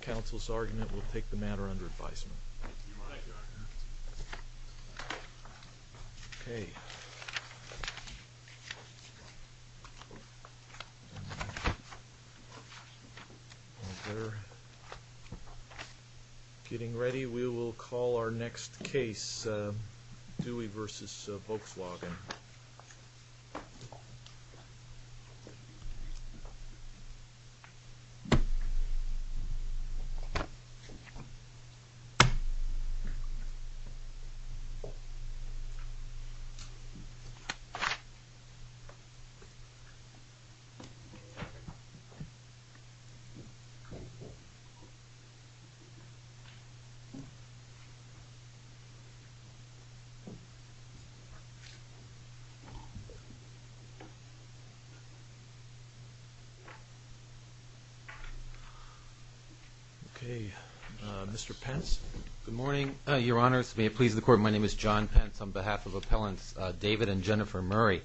counsel's argument will take the matter under advisement. Getting ready we will call our next case Dewey v. Volkswagen. Dewey v. Volkswagen counsel's argument will take the matter under advicement. Okay. Mr. Pence. Good morning, your honors. May it please the court, my name is John Pence on behalf of Appellants David and Jennifer Murray.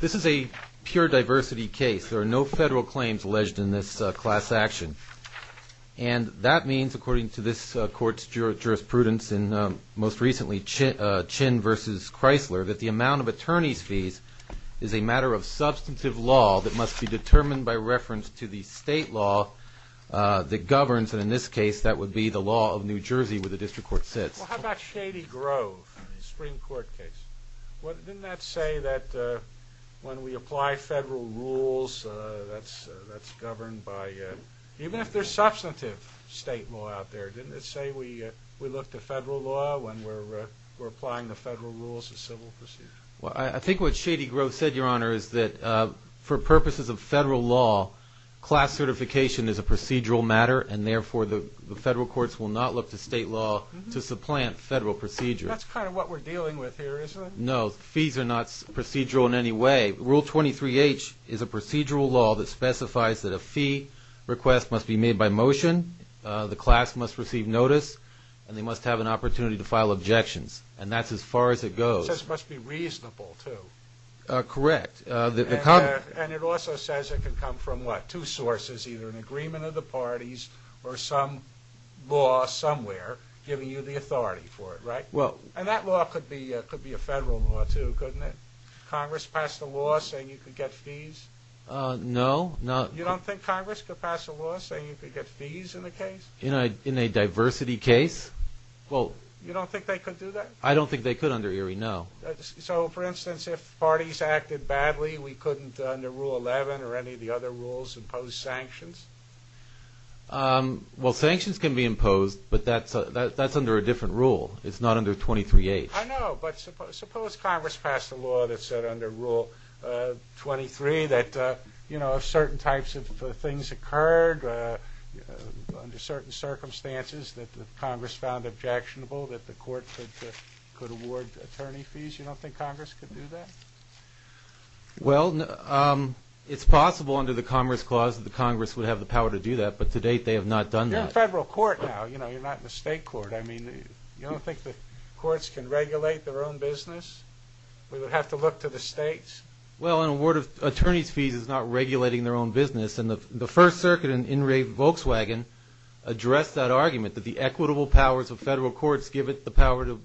This is a pure diversity case. There are no federal claims alleged in this class action. And that means, according to this court's jurisprudence in most recently Chin v. Chrysler, that the amount of attorney's fees is a matter of substantive law that must be determined by reference to the state law that governs, and in this case that would be the law of New Jersey where the district court sits. Well how about Shady Grove, a Supreme Court case? Didn't that say that when we apply federal rules that's governed by, even if there's substantive state law out there, didn't it say we look to federal law when we're applying the federal rules to civil procedure? Well I think what Shady Grove said, your honor, is that for purposes of federal law, class certification is a procedural matter and therefore the federal courts will not look to state law to supplant federal procedure. That's kind of what we're dealing with here, isn't it? No, fees are not procedural in any way. Rule 23H is a procedural law that specifies that a fee request must be made by motion, the class must receive notice, and they must have an opportunity to file objections. And that's as far as it goes. And it says it must be reasonable too. Correct. And it also says it can come from what, two sources, either an agreement of the parties or some law somewhere giving you the authority for it, right? And that law could be a federal law too, couldn't it? Congress passed a law saying you could get fees? No. You don't think Congress could pass a law saying you could get fees in the case? In a diversity case? You don't think they could do that? I don't think they could under Erie, no. So, for instance, if parties acted badly, we couldn't, under Rule 11 or any of the other rules, impose sanctions? Well, sanctions can be imposed, but that's under a different rule. It's not under 23H. I know, but suppose Congress passed a law that said under Rule 23 that, you know, if certain types of things occurred under certain circumstances that Congress found objectionable, that the court could award attorney fees? You don't think Congress could do that? Well, it's possible under the Commerce Clause that the Congress would have the power to do that, but to date they have not done that. You're in federal court now, you know, you're not in the state court. I mean, you don't think the courts can regulate their own business? We would have to look to the states? Well, an award of attorney's fees is not regulating their own business, and the First Circuit in Volkswagen addressed that argument, that the equitable powers of federal courts give it the power to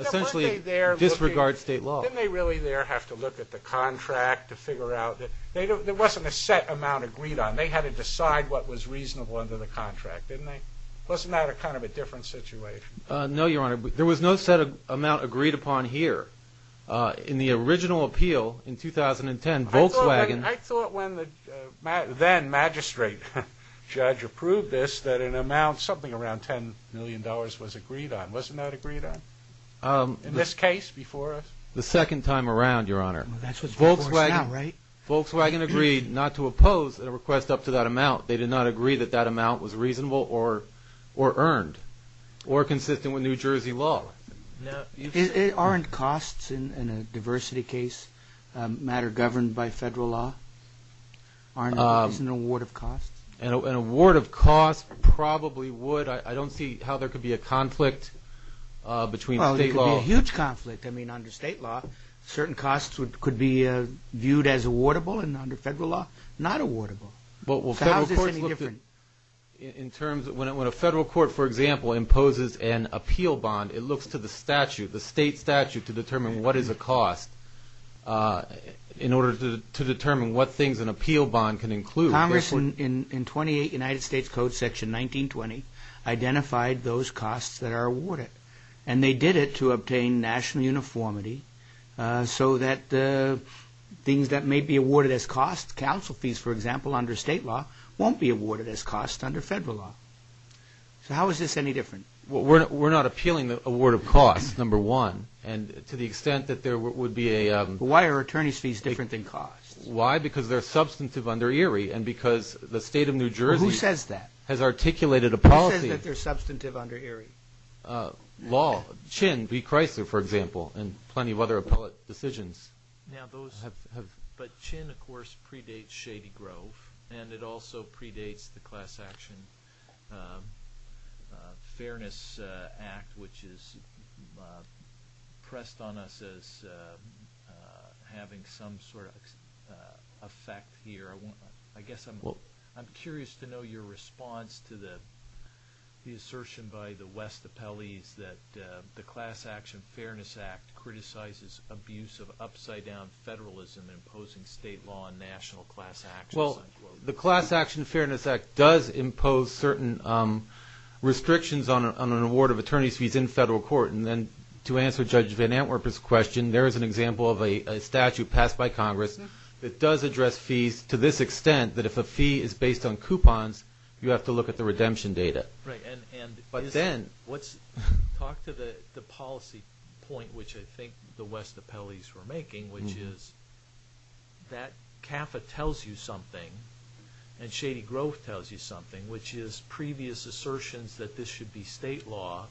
essentially disregard state law. Didn't they really there have to look at the contract to figure out? There wasn't a set amount agreed on. They had to decide what was reasonable under the contract, didn't they? Wasn't that kind of a different situation? No, Your Honor. There was no set amount agreed upon here. In the original appeal in 2010, Volkswagen... I thought when the then magistrate judge approved this that an amount, something around $10 million, was agreed on. Wasn't that agreed on? In this case, before us? The second time around, Your Honor. Volkswagen agreed not to oppose a request up to that amount. They did not agree that that amount was reasonable or earned, or consistent with New Jersey law. Aren't costs in a diversity case matter governed by federal law? Isn't an award of costs? An award of costs probably would. I don't see how there could be a conflict between state law... certain costs could be viewed as awardable under federal law, not awardable. So how is this any different? When a federal court, for example, imposes an appeal bond, it looks to the statute, the state statute, to determine what is a cost in order to determine what things an appeal bond can include. Congress, in 28 United States Code Section 1920, identified those costs that are awarded. And they did it to obtain national uniformity so that things that may be awarded as costs, counsel fees, for example, under state law, won't be awarded as costs under federal law. So how is this any different? We're not appealing the award of costs, number one. And to the extent that there would be a... Why are attorney's fees different than costs? Why? Because they're substantive under Erie and because the state of New Jersey... Who says that? ...has articulated a policy... Who says that they're substantive under Erie? Law. Chinn v. Chrysler, for example, and plenty of other appellate decisions. Now those... Have... But Chinn, of course, predates Shady Grove, and it also predates the Class Action Fairness Act, which is pressed on us as having some sort of effect here. I guess I'm curious to know your response to the assertion by the West Appellees that the Class Action Fairness Act criticizes abuse of upside-down federalism and imposing state law on national class actions. Well, the Class Action Fairness Act does impose certain restrictions on an award of attorney's fees in federal court. And to answer Judge Van Antwerpen's question, there is an example of a statute passed by Congress that does address fees to this extent that if a fee is based on coupons, you have to look at the redemption data. Right, and... But then... Talk to the policy point, which I think the West Appellees were making, which is that CAFA tells you something and Shady Grove tells you something, which is previous assertions that this should be state law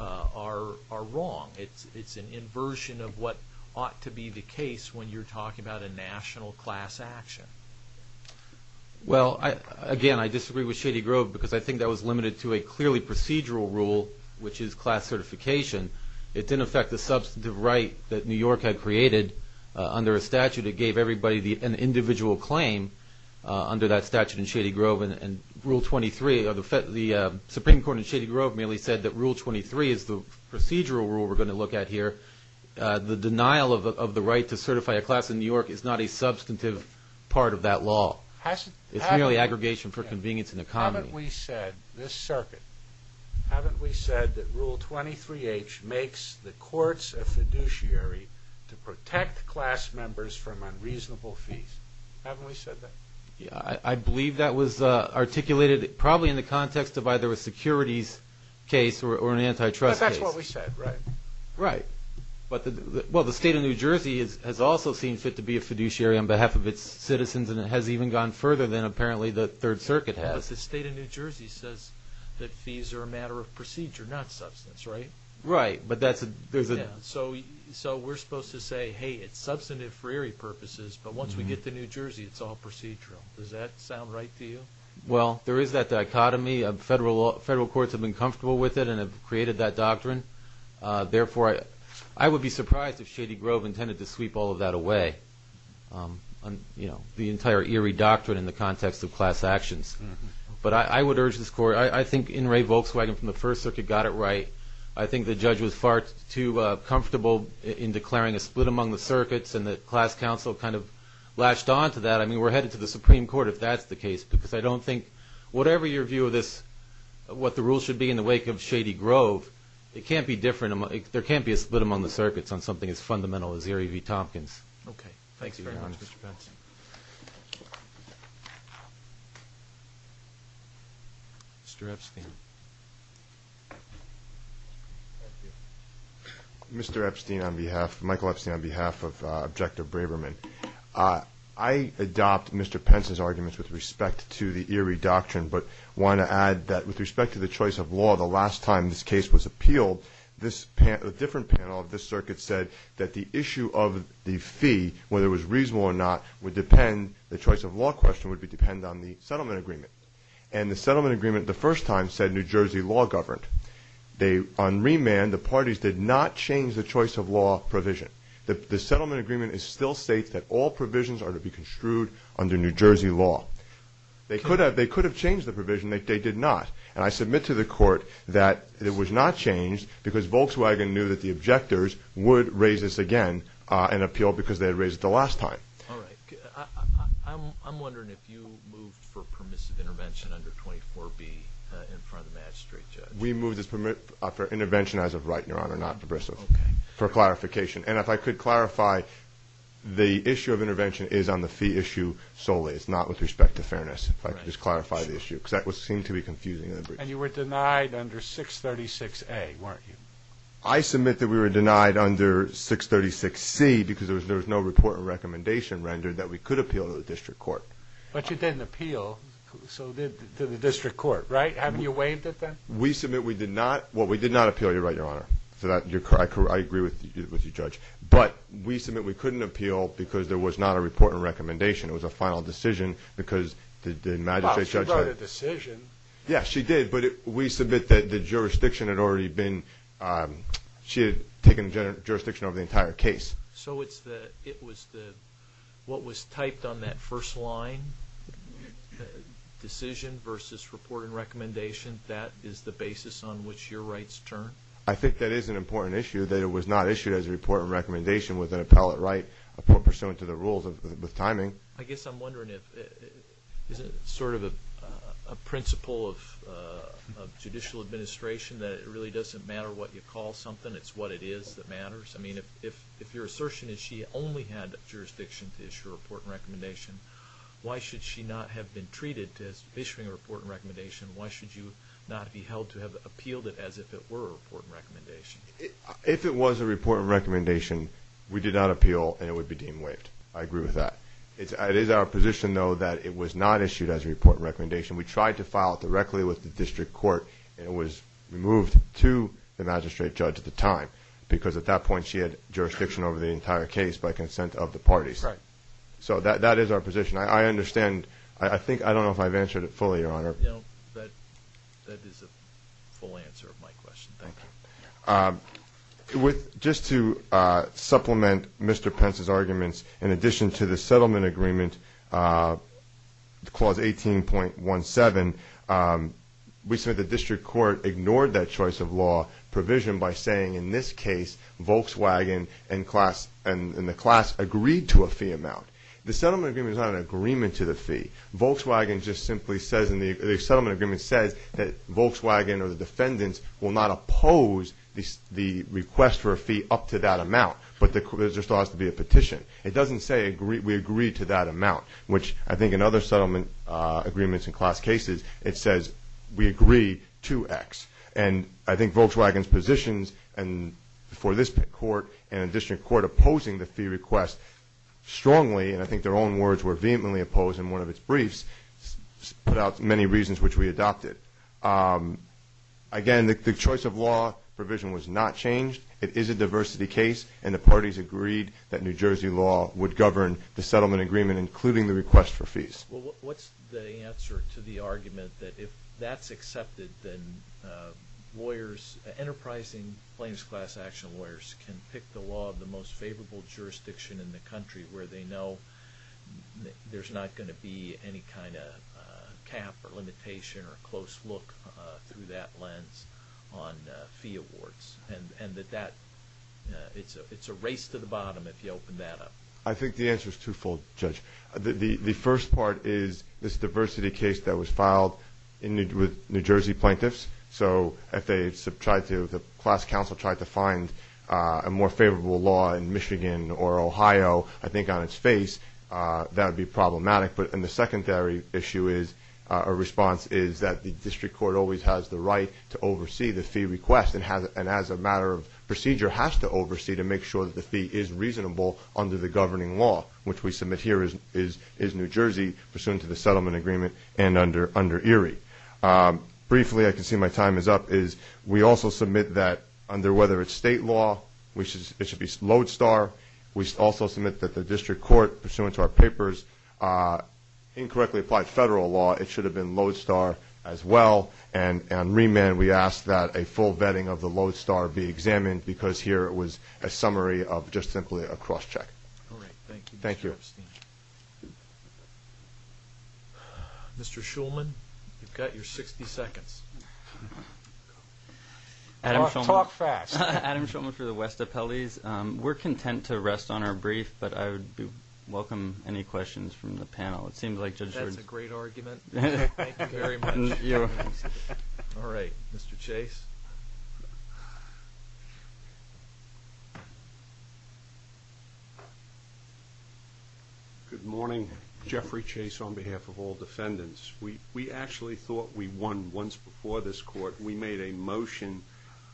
are wrong. It's an inversion of what ought to be the case when you're talking about a national class action. Well, again, I disagree with Shady Grove because I think that was limited to a clearly procedural rule, which is class certification. It didn't affect the substantive right that New York had created under a statute. It gave everybody an individual claim under that statute in Shady Grove. And Rule 23, the Supreme Court in Shady Grove merely said that Rule 23 is the procedural rule we're going to look at here. The denial of the right to certify a class in New York is not a substantive part of that law. It's merely aggregation for convenience and economy. Haven't we said, this circuit, haven't we said that Rule 23H makes the courts a fiduciary to protect class members from unreasonable fees? Haven't we said that? Yeah, I believe that was articulated probably in the context of either a securities case or an antitrust case. But that's what we said, right? Right. Well, the state of New Jersey has also seen fit to be a fiduciary on behalf of its citizens, and it has even gone further than apparently the Third Circuit has. But the state of New Jersey says that fees are a matter of procedure, not substance, right? Right. So we're supposed to say, hey, it's substantive for eerie purposes, but once we get to New Jersey, it's all procedural. Does that sound right to you? Well, there is that dichotomy. Federal courts have been comfortable with it and have created that doctrine. Therefore, I would be surprised if Shady Grove intended to sweep all of that away, you know, the entire eerie doctrine in the context of class actions. But I would urge this court, I think In re Volkswagen from the First Circuit got it right. I think the judge was far too comfortable in declaring a split among the circuits, and the class council kind of latched on to that. I mean, we're headed to the Supreme Court if that's the case, because I don't think whatever your view of this, what the rules should be in the wake of Shady Grove, it can't be different. There can't be a split among the circuits on something as fundamental as Eerie v. Tompkins. Okay. Thanks very much, Mr. Pence. Mr. Epstein. Mr. Epstein on behalf, Michael Epstein on behalf of Objective Braverman. I adopt Mr. Pence's arguments with respect to the eerie doctrine, but want to add that with respect to the choice of law, the last time this case was appealed, this panel, a different panel of this circuit said that the issue of the fee, whether it was reasonable or not, would depend, the choice of law question would depend on the settlement agreement. And the settlement agreement the first time said New Jersey law governed. On remand, the parties did not change the choice of law provision. The settlement agreement still states that all provisions are to be construed under New Jersey law. They could have changed the provision. They did not. And I submit to the court that it was not changed because Volkswagen knew that the objectors would raise this again and appeal because they had raised it the last time. All right. I'm wondering if you moved for permissive intervention under 24B in front of the magistrate judge. We moved for intervention as of right, Your Honor, not pervasive. Okay. For clarification. And if I could clarify, the issue of intervention is on the fee issue solely. It's not with respect to fairness. Right. If I could just clarify the issue because that seemed to be confusing. And you were denied under 636A, weren't you? I submit that we were denied under 636C because there was no report and recommendation rendered that we could appeal to the district court. But you didn't appeal to the district court, right? Haven't you waived it then? We submit we did not. Well, we did not appeal. You're right, Your Honor. I agree with you, Judge. But we submit we couldn't appeal because there was not a report and recommendation. It was a final decision because the magistrate judge had – Well, she wrote a decision. Yeah, she did. But we submit that the jurisdiction had already been – she had taken jurisdiction over the entire case. So it was the – what was typed on that first line, the decision versus report and recommendation, that is the basis on which your rights turn? I think that is an important issue, that it was not issued as a report and recommendation with an appellate right pursuant to the rules with timing. I guess I'm wondering if – is it sort of a principle of judicial administration that it really doesn't matter what you call something, it's what it is that matters? I mean, if your assertion is she only had jurisdiction to issue a report and recommendation, why should she not have been treated to issuing a report and recommendation? Why should you not be held to have appealed it as if it were a report and recommendation? If it was a report and recommendation, we did not appeal and it would be deemed waived. I agree with that. It is our position, though, that it was not issued as a report and recommendation. We tried to file it directly with the district court and it was removed to the magistrate judge at the time because at that point she had jurisdiction over the entire case by consent of the parties. Right. So that is our position. I understand – I think – I don't know if I've answered it fully, Your Honor. No, that is a full answer of my question. Thank you. With – just to supplement Mr. Pence's arguments, in addition to the settlement agreement, clause 18.17, we said the district court ignored that choice of law provision by saying in this case Volkswagen and the class agreed to a fee amount. The settlement agreement is not an agreement to the fee. Volkswagen just simply says in the – the settlement agreement says that Volkswagen or the defendants will not oppose the request for a fee up to that amount, but there still has to be a petition. It doesn't say we agree to that amount, which I think in other settlement agreements and class cases, it says we agree to X. And I think Volkswagen's positions for this court and the district court opposing the fee request strongly, and I think their own words were vehemently opposed in one of its briefs, put out many reasons which we adopted. Again, the choice of law provision was not changed. It is a diversity case, and the parties agreed that New Jersey law would govern the settlement agreement, including the request for fees. Well, what's the answer to the argument that if that's accepted, then lawyers – enterprising plaintiff's class action lawyers can pick the law of the most favorable jurisdiction in the country where they know there's not going to be any kind of cap or limitation or close look through that lens on fee awards? And that that – it's a race to the bottom if you open that up. I think the answer is twofold, Judge. The first part is this diversity case that was filed with New Jersey plaintiffs. So if they tried to – if the class counsel tried to find a more favorable law in Michigan or Ohio, I think on its face, that would be problematic. And the secondary issue is – or response is that the district court always has the right to oversee the fee request and as a matter of procedure has to oversee to make sure that the fee is reasonable under the governing law, which we submit here is New Jersey pursuant to the settlement agreement and under ERIE. Briefly, I can see my time is up, is we also submit that, under whether it's state law, it should be lodestar. We also submit that the district court pursuant to our paper's incorrectly applied federal law, it should have been lodestar as well. And on remand, we ask that a full vetting of the lodestar be examined because here it was a summary of just simply a cross-check. All right. Thank you, Mr. Epstein. Mr. Shulman, you've got your 60 seconds. Talk fast. Adam Shulman for the West Appellees. We're content to rest on our brief, but I would welcome any questions from the panel. That's a great argument. Thank you very much. All right. Mr. Chase. Good morning. Jeffrey Chase on behalf of all defendants. We actually thought we won once before this court. We made a motion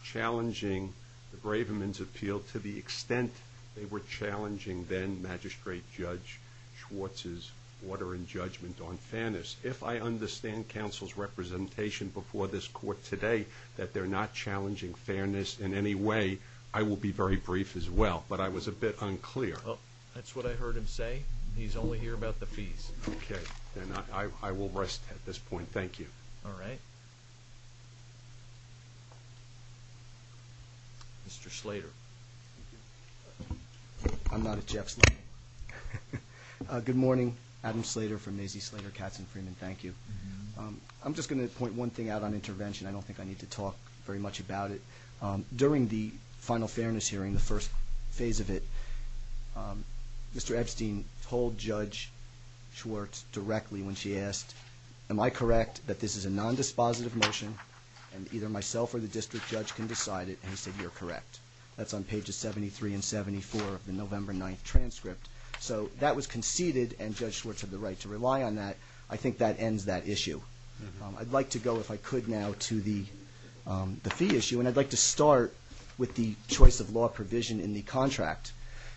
challenging the Braverman's appeal to the extent they were challenging then-Magistrate Judge Schwartz's order and judgment on fairness. If I understand counsel's representation before this court today that they're not challenging fairness in any way, I will be very brief as well. But I was a bit unclear. That's what I heard him say. He's only here about the fees. Okay. Then I will rest at this point. Thank you. All right. Mr. Slater. I'm not a Jeff Slater. Good morning. Adam Slater from Maisie Slater Katzen Freeman. Thank you. I'm just going to point one thing out on intervention. I don't think I need to talk very much about it. During the final fairness hearing, the first phase of it, Mr. Epstein told Judge Schwartz directly when she asked am I correct that this is a non-dispositive motion and either myself or the district judge can decide it and he said you're correct. That's on pages 73 and 74 of the November 9th transcript. So that was conceded and Judge Schwartz had the right to rely on that. I think that ends that issue. I'd like to go if I could now to the fee issue and I'd like to start with the choice of law provision in the contract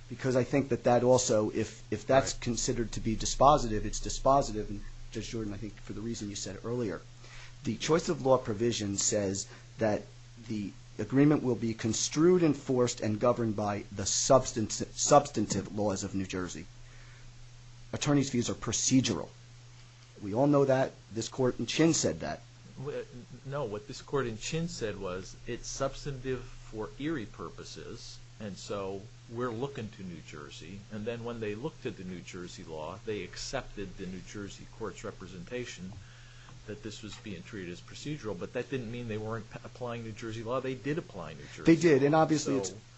because I think that that also if that's considered to be dispositive it's dispositive and Judge Jordan I think for the reason you said earlier the choice of law provision says that the agreement will be construed, enforced, and governed by the substantive laws of New Jersey. Attorney's fees are procedural. We all know that. This court in Chin said that. No, what this court in Chin said was it's substantive for eerie purposes and so we're looking to New Jersey and then when they look to the New Jersey law they accepted the New Jersey court's representation that this was being treated as procedural but that didn't mean they weren't applying New Jersey law. They did apply New Jersey law. They did and obviously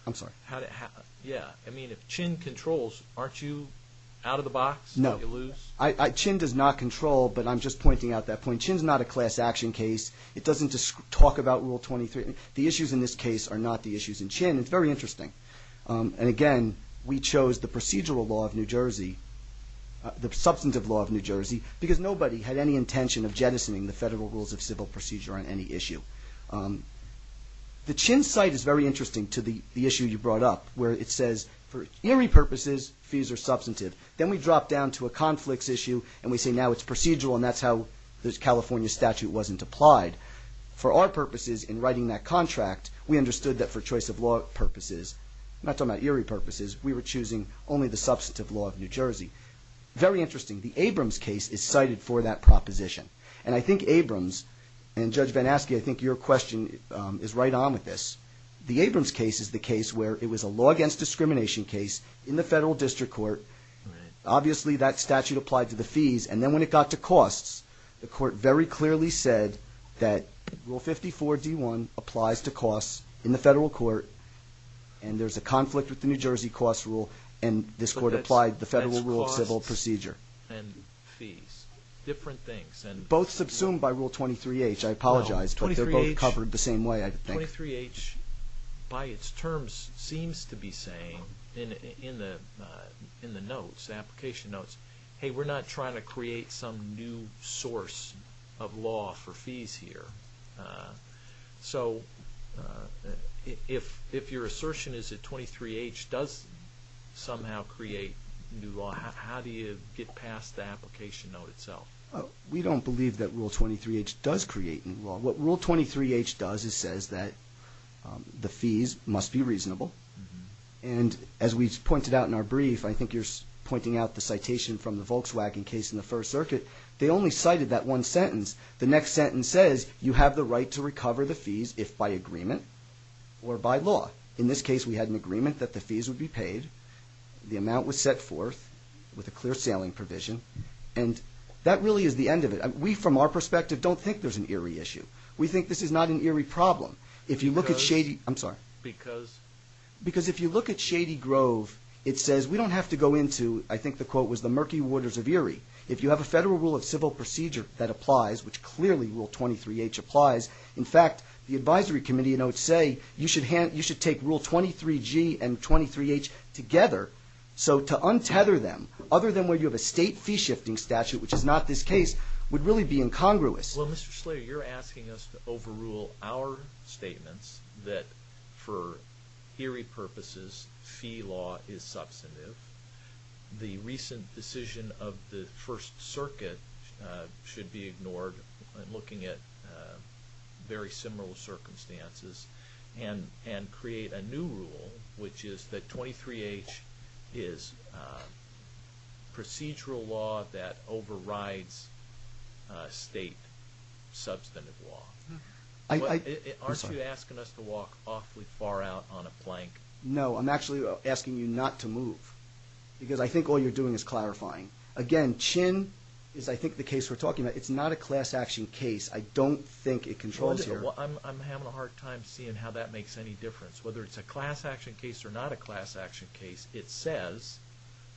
I mean if Chin controls aren't you out of the box? No. Chin does not control but I'm just pointing out that point. Chin's not a class action case. It doesn't talk about Rule 23. The issues in this case are not the issues in Chin. It's very interesting and again we chose the procedural law of New Jersey the substantive law of New Jersey because nobody had any intention of jettisoning the federal rules of civil procedure on any issue. The Chin site is very interesting to the issue you brought up where it says for eerie purposes fees are substantive. Then we drop down to a conflicts issue and we say now it's procedural and that's how the California statute wasn't applied. For our purposes in writing that contract we understood that for choice of law purposes not talking about eerie purposes we were choosing only the substantive law of New Jersey Very interesting. The Abrams case is cited for that proposition and I think Abrams and Judge VanAskey I think your question is right on with this. The Abrams case is the case where it was a law against discrimination case in the federal district court. Obviously that statute applied to the fees and then when it got to costs the court very clearly said that Rule 54 D1 applies to costs in the federal court and there's a conflict with the New Jersey costs rule and this court applied the federal rule of civil procedure. Both subsumed by Rule 23H I apologize but they're both covered the same way I think. 23H by it's terms seems to be saying in the application notes hey we're not trying to create some new source of law for fees here so if your assertion is that 23H does somehow create new law how do you get past the application note itself? We don't believe that Rule 23H does create new law. What Rule 23H does is says that the fees must be reasonable and as we pointed out in our brief I think you're pointing out the citation from the Volkswagen case in the first circuit. They only cited that one you have the right to recover the fees if by agreement or by law in this case we had an agreement that the fees would be paid. The amount was set forth with a clear sailing provision and that really is the end of it. We from our perspective don't think there's an Erie issue. We think this is not an Erie problem. If you look at Shady I'm sorry. Because? Because if you look at Shady Grove it says we don't have to go into I think the quote was the murky waters of Erie if you have a federal rule of civil procedure that applies. In fact the advisory committee notes say you should take Rule 23G and 23H together so to untether them other than where you have a state fee shifting statute which is not this case would really be incongruous. Well Mr. Slater you're asking us to overrule our statements that for Erie purposes fee law is substantive. The recent decision of the first circuit should be ignored looking at very similar circumstances and create a new rule which is that 23H is procedural law that overrides state substantive law. Aren't you asking us to walk awfully far out on a plank? No I'm actually asking you not to move because I think all you're doing is clarifying again Chin is I think the case we're talking about it's not a class action case I don't think it controls here. I'm having a hard time seeing how that makes any difference whether it's a class action case or not a class action case it says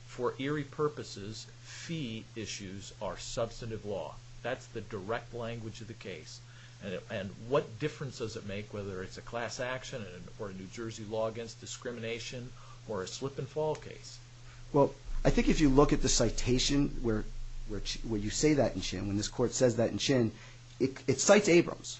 for Erie purposes fee issues are substantive law. That's the direct language of the case and what difference does it make whether it's a class action or a New Jersey law against discrimination or a slip and fall case? Well I think if you look at the citation where you say that in Chin it cites Abrams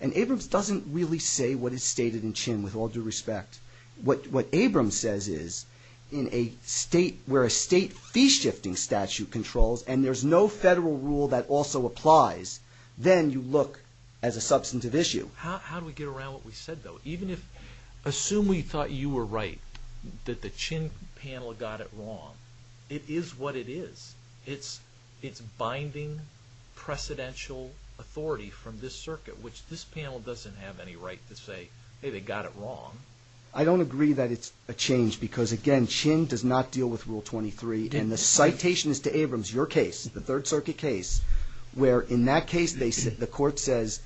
and Abrams doesn't really say what is stated in Chin with all due respect. What Abrams says is in a state where a state fee shifting statute controls and there's no federal rule that also applies then you look as a substantive issue. How do we get around what we said though even if assume we thought you were right that the Chin panel got it wrong. It is what it is. It's binding precedential authority from this circuit which this panel doesn't have any right to say hey they got it wrong. I don't agree that it's a change because again Chin does not deal with Rule 23 and the citation is to Abrams, your case, the Third Circuit case where in that case the court says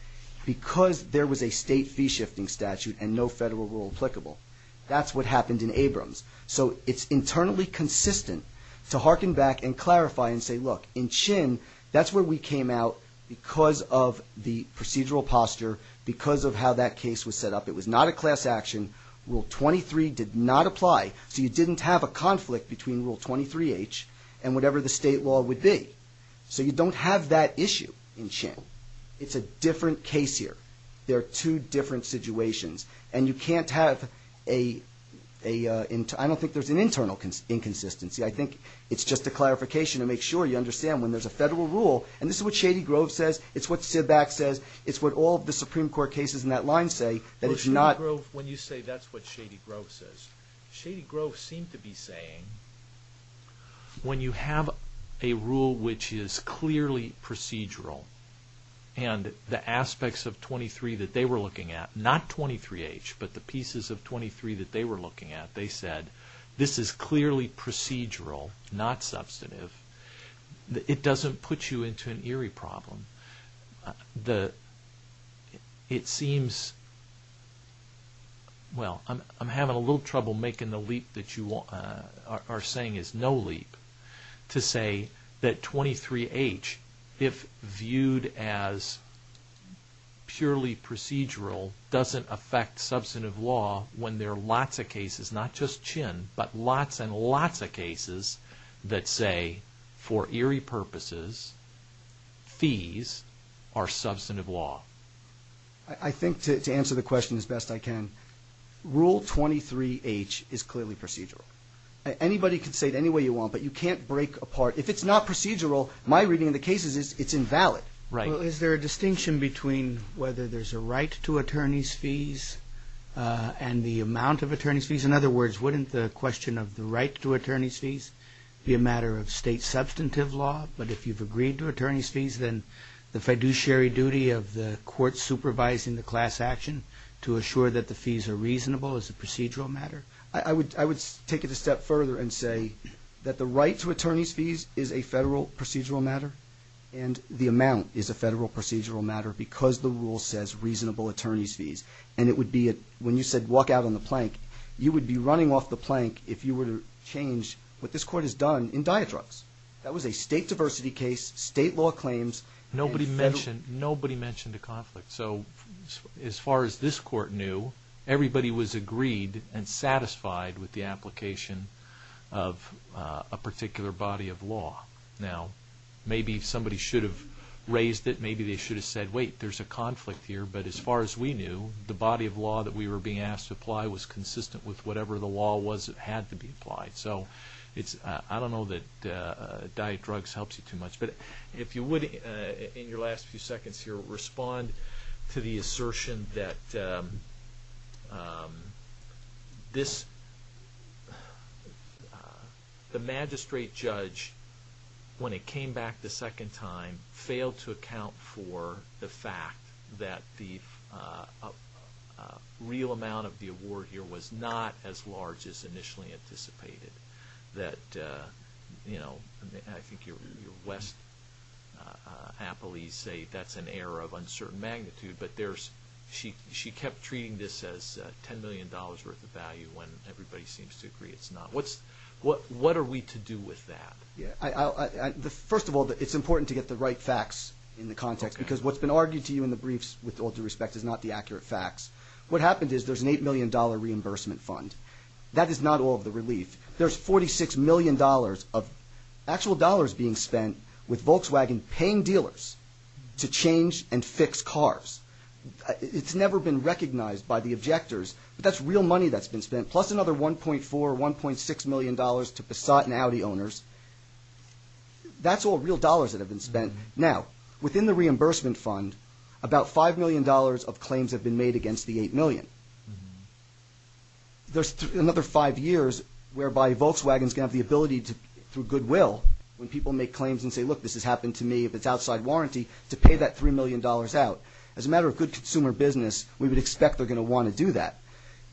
because there was a state fee shifting statute and no federal rule applicable that's what happened in Abrams so it's internally consistent to harken back and clarify and say look in Chin that's where we came out because of the procedural posture because of how that case was set up. It was not a class action. Rule 23 did not apply so you didn't have a conflict between Rule 23H and whatever the state law would be so you don't have that issue in Chin. It's a different case here. There are two different situations and you can't have I don't think there's an internal inconsistency. I think it's just a clarification to make sure you understand when there's a federal rule and this is what Shady Grove says, it's what Sidback says it's what all the Supreme Court cases in that line say that it's not... When you say that's what Shady Grove says Shady Grove seemed to be saying when you have a rule which is clearly procedural and the aspects of not 23H but the pieces of 23 that they were looking at they said this is clearly procedural not substantive it doesn't put you into an eerie problem the... it seems well I'm having a little trouble making the leap that you are saying is no leap to say that 23H if viewed as purely procedural doesn't affect substantive law when there are lots of cases not just Chin but lots and lots of cases that say for eerie purposes fees are substantive law I think to answer the question as best I can rule 23H is clearly procedural anybody can say it any way you want but you can't break apart if it's not procedural my reading of the cases is it's invalid is there a distinction between whether there's a right to attorney's fees and the amount of attorney's fees in other words wouldn't the question of the right to attorney's fees be a matter of state substantive law but if you've agreed to attorney's fees then the fiduciary duty of the court supervising the class action to assure that the fees are reasonable is a procedural matter I would take it a step further and say that the right to attorney's fees is a federal procedural matter and the amount is a federal procedural matter because the rule says reasonable attorney's fees and it would be when you said walk out on the plank you would be running off the plank if you were to change what this court has done in Diatrux that was a state diversity case state law claims nobody mentioned a conflict so as far as this court knew everybody was agreed and satisfied with the application of a particular body of law now maybe somebody should have raised it maybe they should have said wait there's a conflict here but as far as we knew the body of law that we were being asked to apply was consistent with whatever the law was that had to be applied so I don't know that Diatrux helps you too much but if you would in your last few seconds here respond to the assertion that this the magistrate judge when it came back the second time failed to account for the fact that the real amount of the award here was not as large as initially anticipated that you know I think your West appellees say that's an error of uncertain magnitude but there's she kept treating this as $10 million worth of value when everybody seems to agree it's not what are we to do with that first of all it's important to get the right facts in the context because what's been argued to you in the briefs with all due respect is not the accurate facts what happened is there's an $8 million reimbursement fund that is not all of the relief there's $46 million of actual dollars being spent with Volkswagen paying dealers to change and it's never been recognized by the objectors but that's real money that's been spent plus another $1.4 or $1.6 million to Passat and Audi owners that's all real dollars that have been spent now within the reimbursement fund about $5 million of claims have been made against the $8 million there's another five years whereby Volkswagen's going to have the ability to through goodwill when people make claims and say look this has happened to me if it's outside warranty to pay that $3 million out as a matter of good consumer business we would expect they're going to want to do that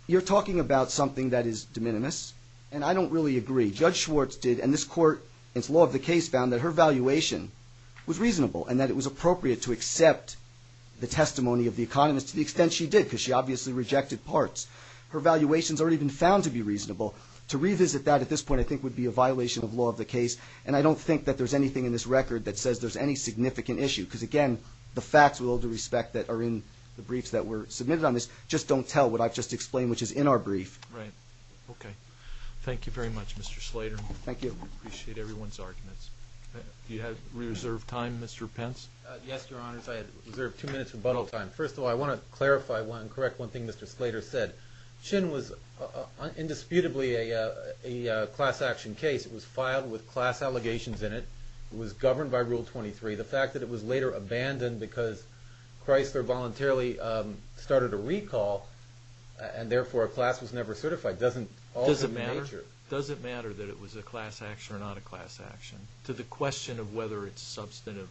you're talking about something that is de minimis and I don't really agree Judge Schwartz did and this court it's law of the case found that her valuation was reasonable and that it was appropriate to accept the testimony of the economist to the extent she did because she obviously rejected parts her valuations aren't even found to be reasonable to revisit that at this point I think would be a violation of law of the case and I don't think that there's anything in this record that says there's any significant issue because again the facts with all due respect that are in the briefs that were submitted on this just don't tell what I've just explained which is in our brief okay thank you very much Mr. Slater thank you appreciate everyone's arguments do you have reserved time Mr. Pence yes your honors I have reserved two minutes rebuttal time first of all I want to clarify and correct one thing Mr. Slater said Shin was indisputably a class action case it was filed with class allegations in it was governed by rule 23 the fact that it was later abandoned because Chrysler voluntarily started a recall and therefore a class was never certified doesn't matter that it was a class action or not a class action to the question of whether it's substantive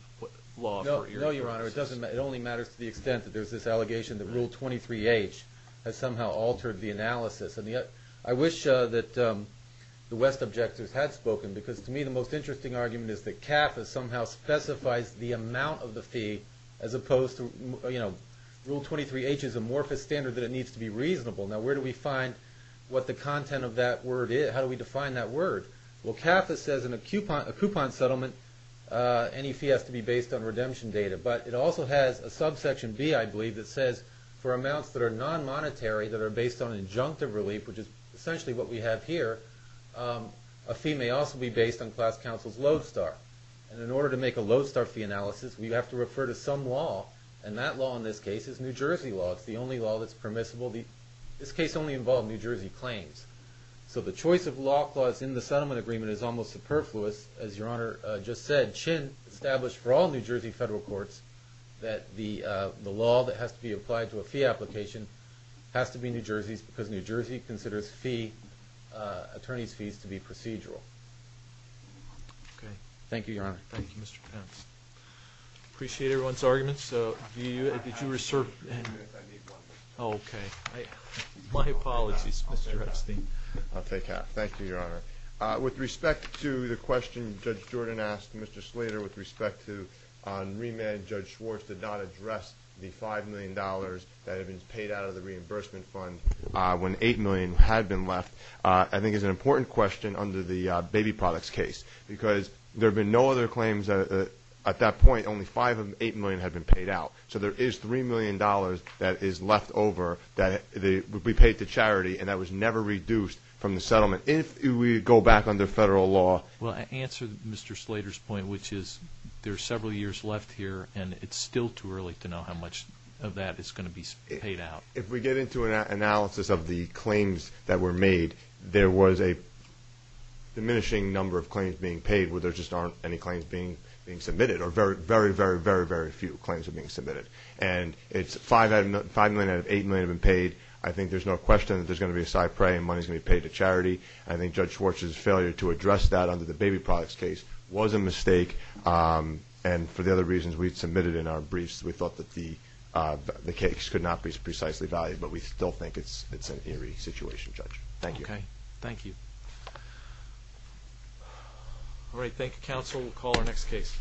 law it only matters to the extent that there's this allegation that rule 23h has somehow altered the analysis and yet I wish that the West objectors had spoken because to me the most interesting argument is that CAFA somehow specifies the amount of the fee as opposed to you know rule 23h is amorphous standard that it needs to be reasonable now where do we find what the content of that word is how do we define that word well CAFA says in a coupon settlement any fee has to be based on redemption data but it also has a subsection b I believe that says for amounts that are non-monetary that are based on an injunctive relief which is essentially what we have here a fee may also be based on class counsel's lodestar and in order to make a lodestar fee analysis we have to refer to some law and that law in this case is New Jersey law it's the only law that's permissible this case only involved New Jersey claims so the choice of law clause in the settlement agreement is almost superfluous as your honor just said Chin established for all New Jersey federal courts that the law that has to be applied to a fee application has to be New Jersey's because New Jersey considers fee attorney's fees to be procedural thank you your honor thank you Mr. Pence appreciate everyone's arguments did you reserve oh okay my apologies Mr. Epstein I'll take half thank you your honor with respect to the question Judge Jordan asked Mr. Slater with respect to on remand Judge Schwartz did not address the five million dollars that have been paid out of the five million had been left I think it's an important question under the baby products case because there have been no other claims at that point only five of the eight million had been paid out so there is three million dollars that is left over that would be paid to charity and that was never reduced from the settlement if we go back under federal law well I answer Mr. Slater's point which is there's several years left here and it's still too early to know how much of that is going to be paid out if we get into an analysis of the claims that were made there was a diminishing number of claims being paid where there just aren't any claims being submitted or very very very few claims being submitted and it's five million out of eight million have been paid I think there's no question that there's going to be a side prey and money is going to be paid to charity I think Judge Schwartz's failure to address that under the baby products case was a mistake and for the other reasons we submitted in our briefs we thought that the money was precisely valued but we still think it's an eerie situation Judge Thank you Alright thank you counsel we'll call our next case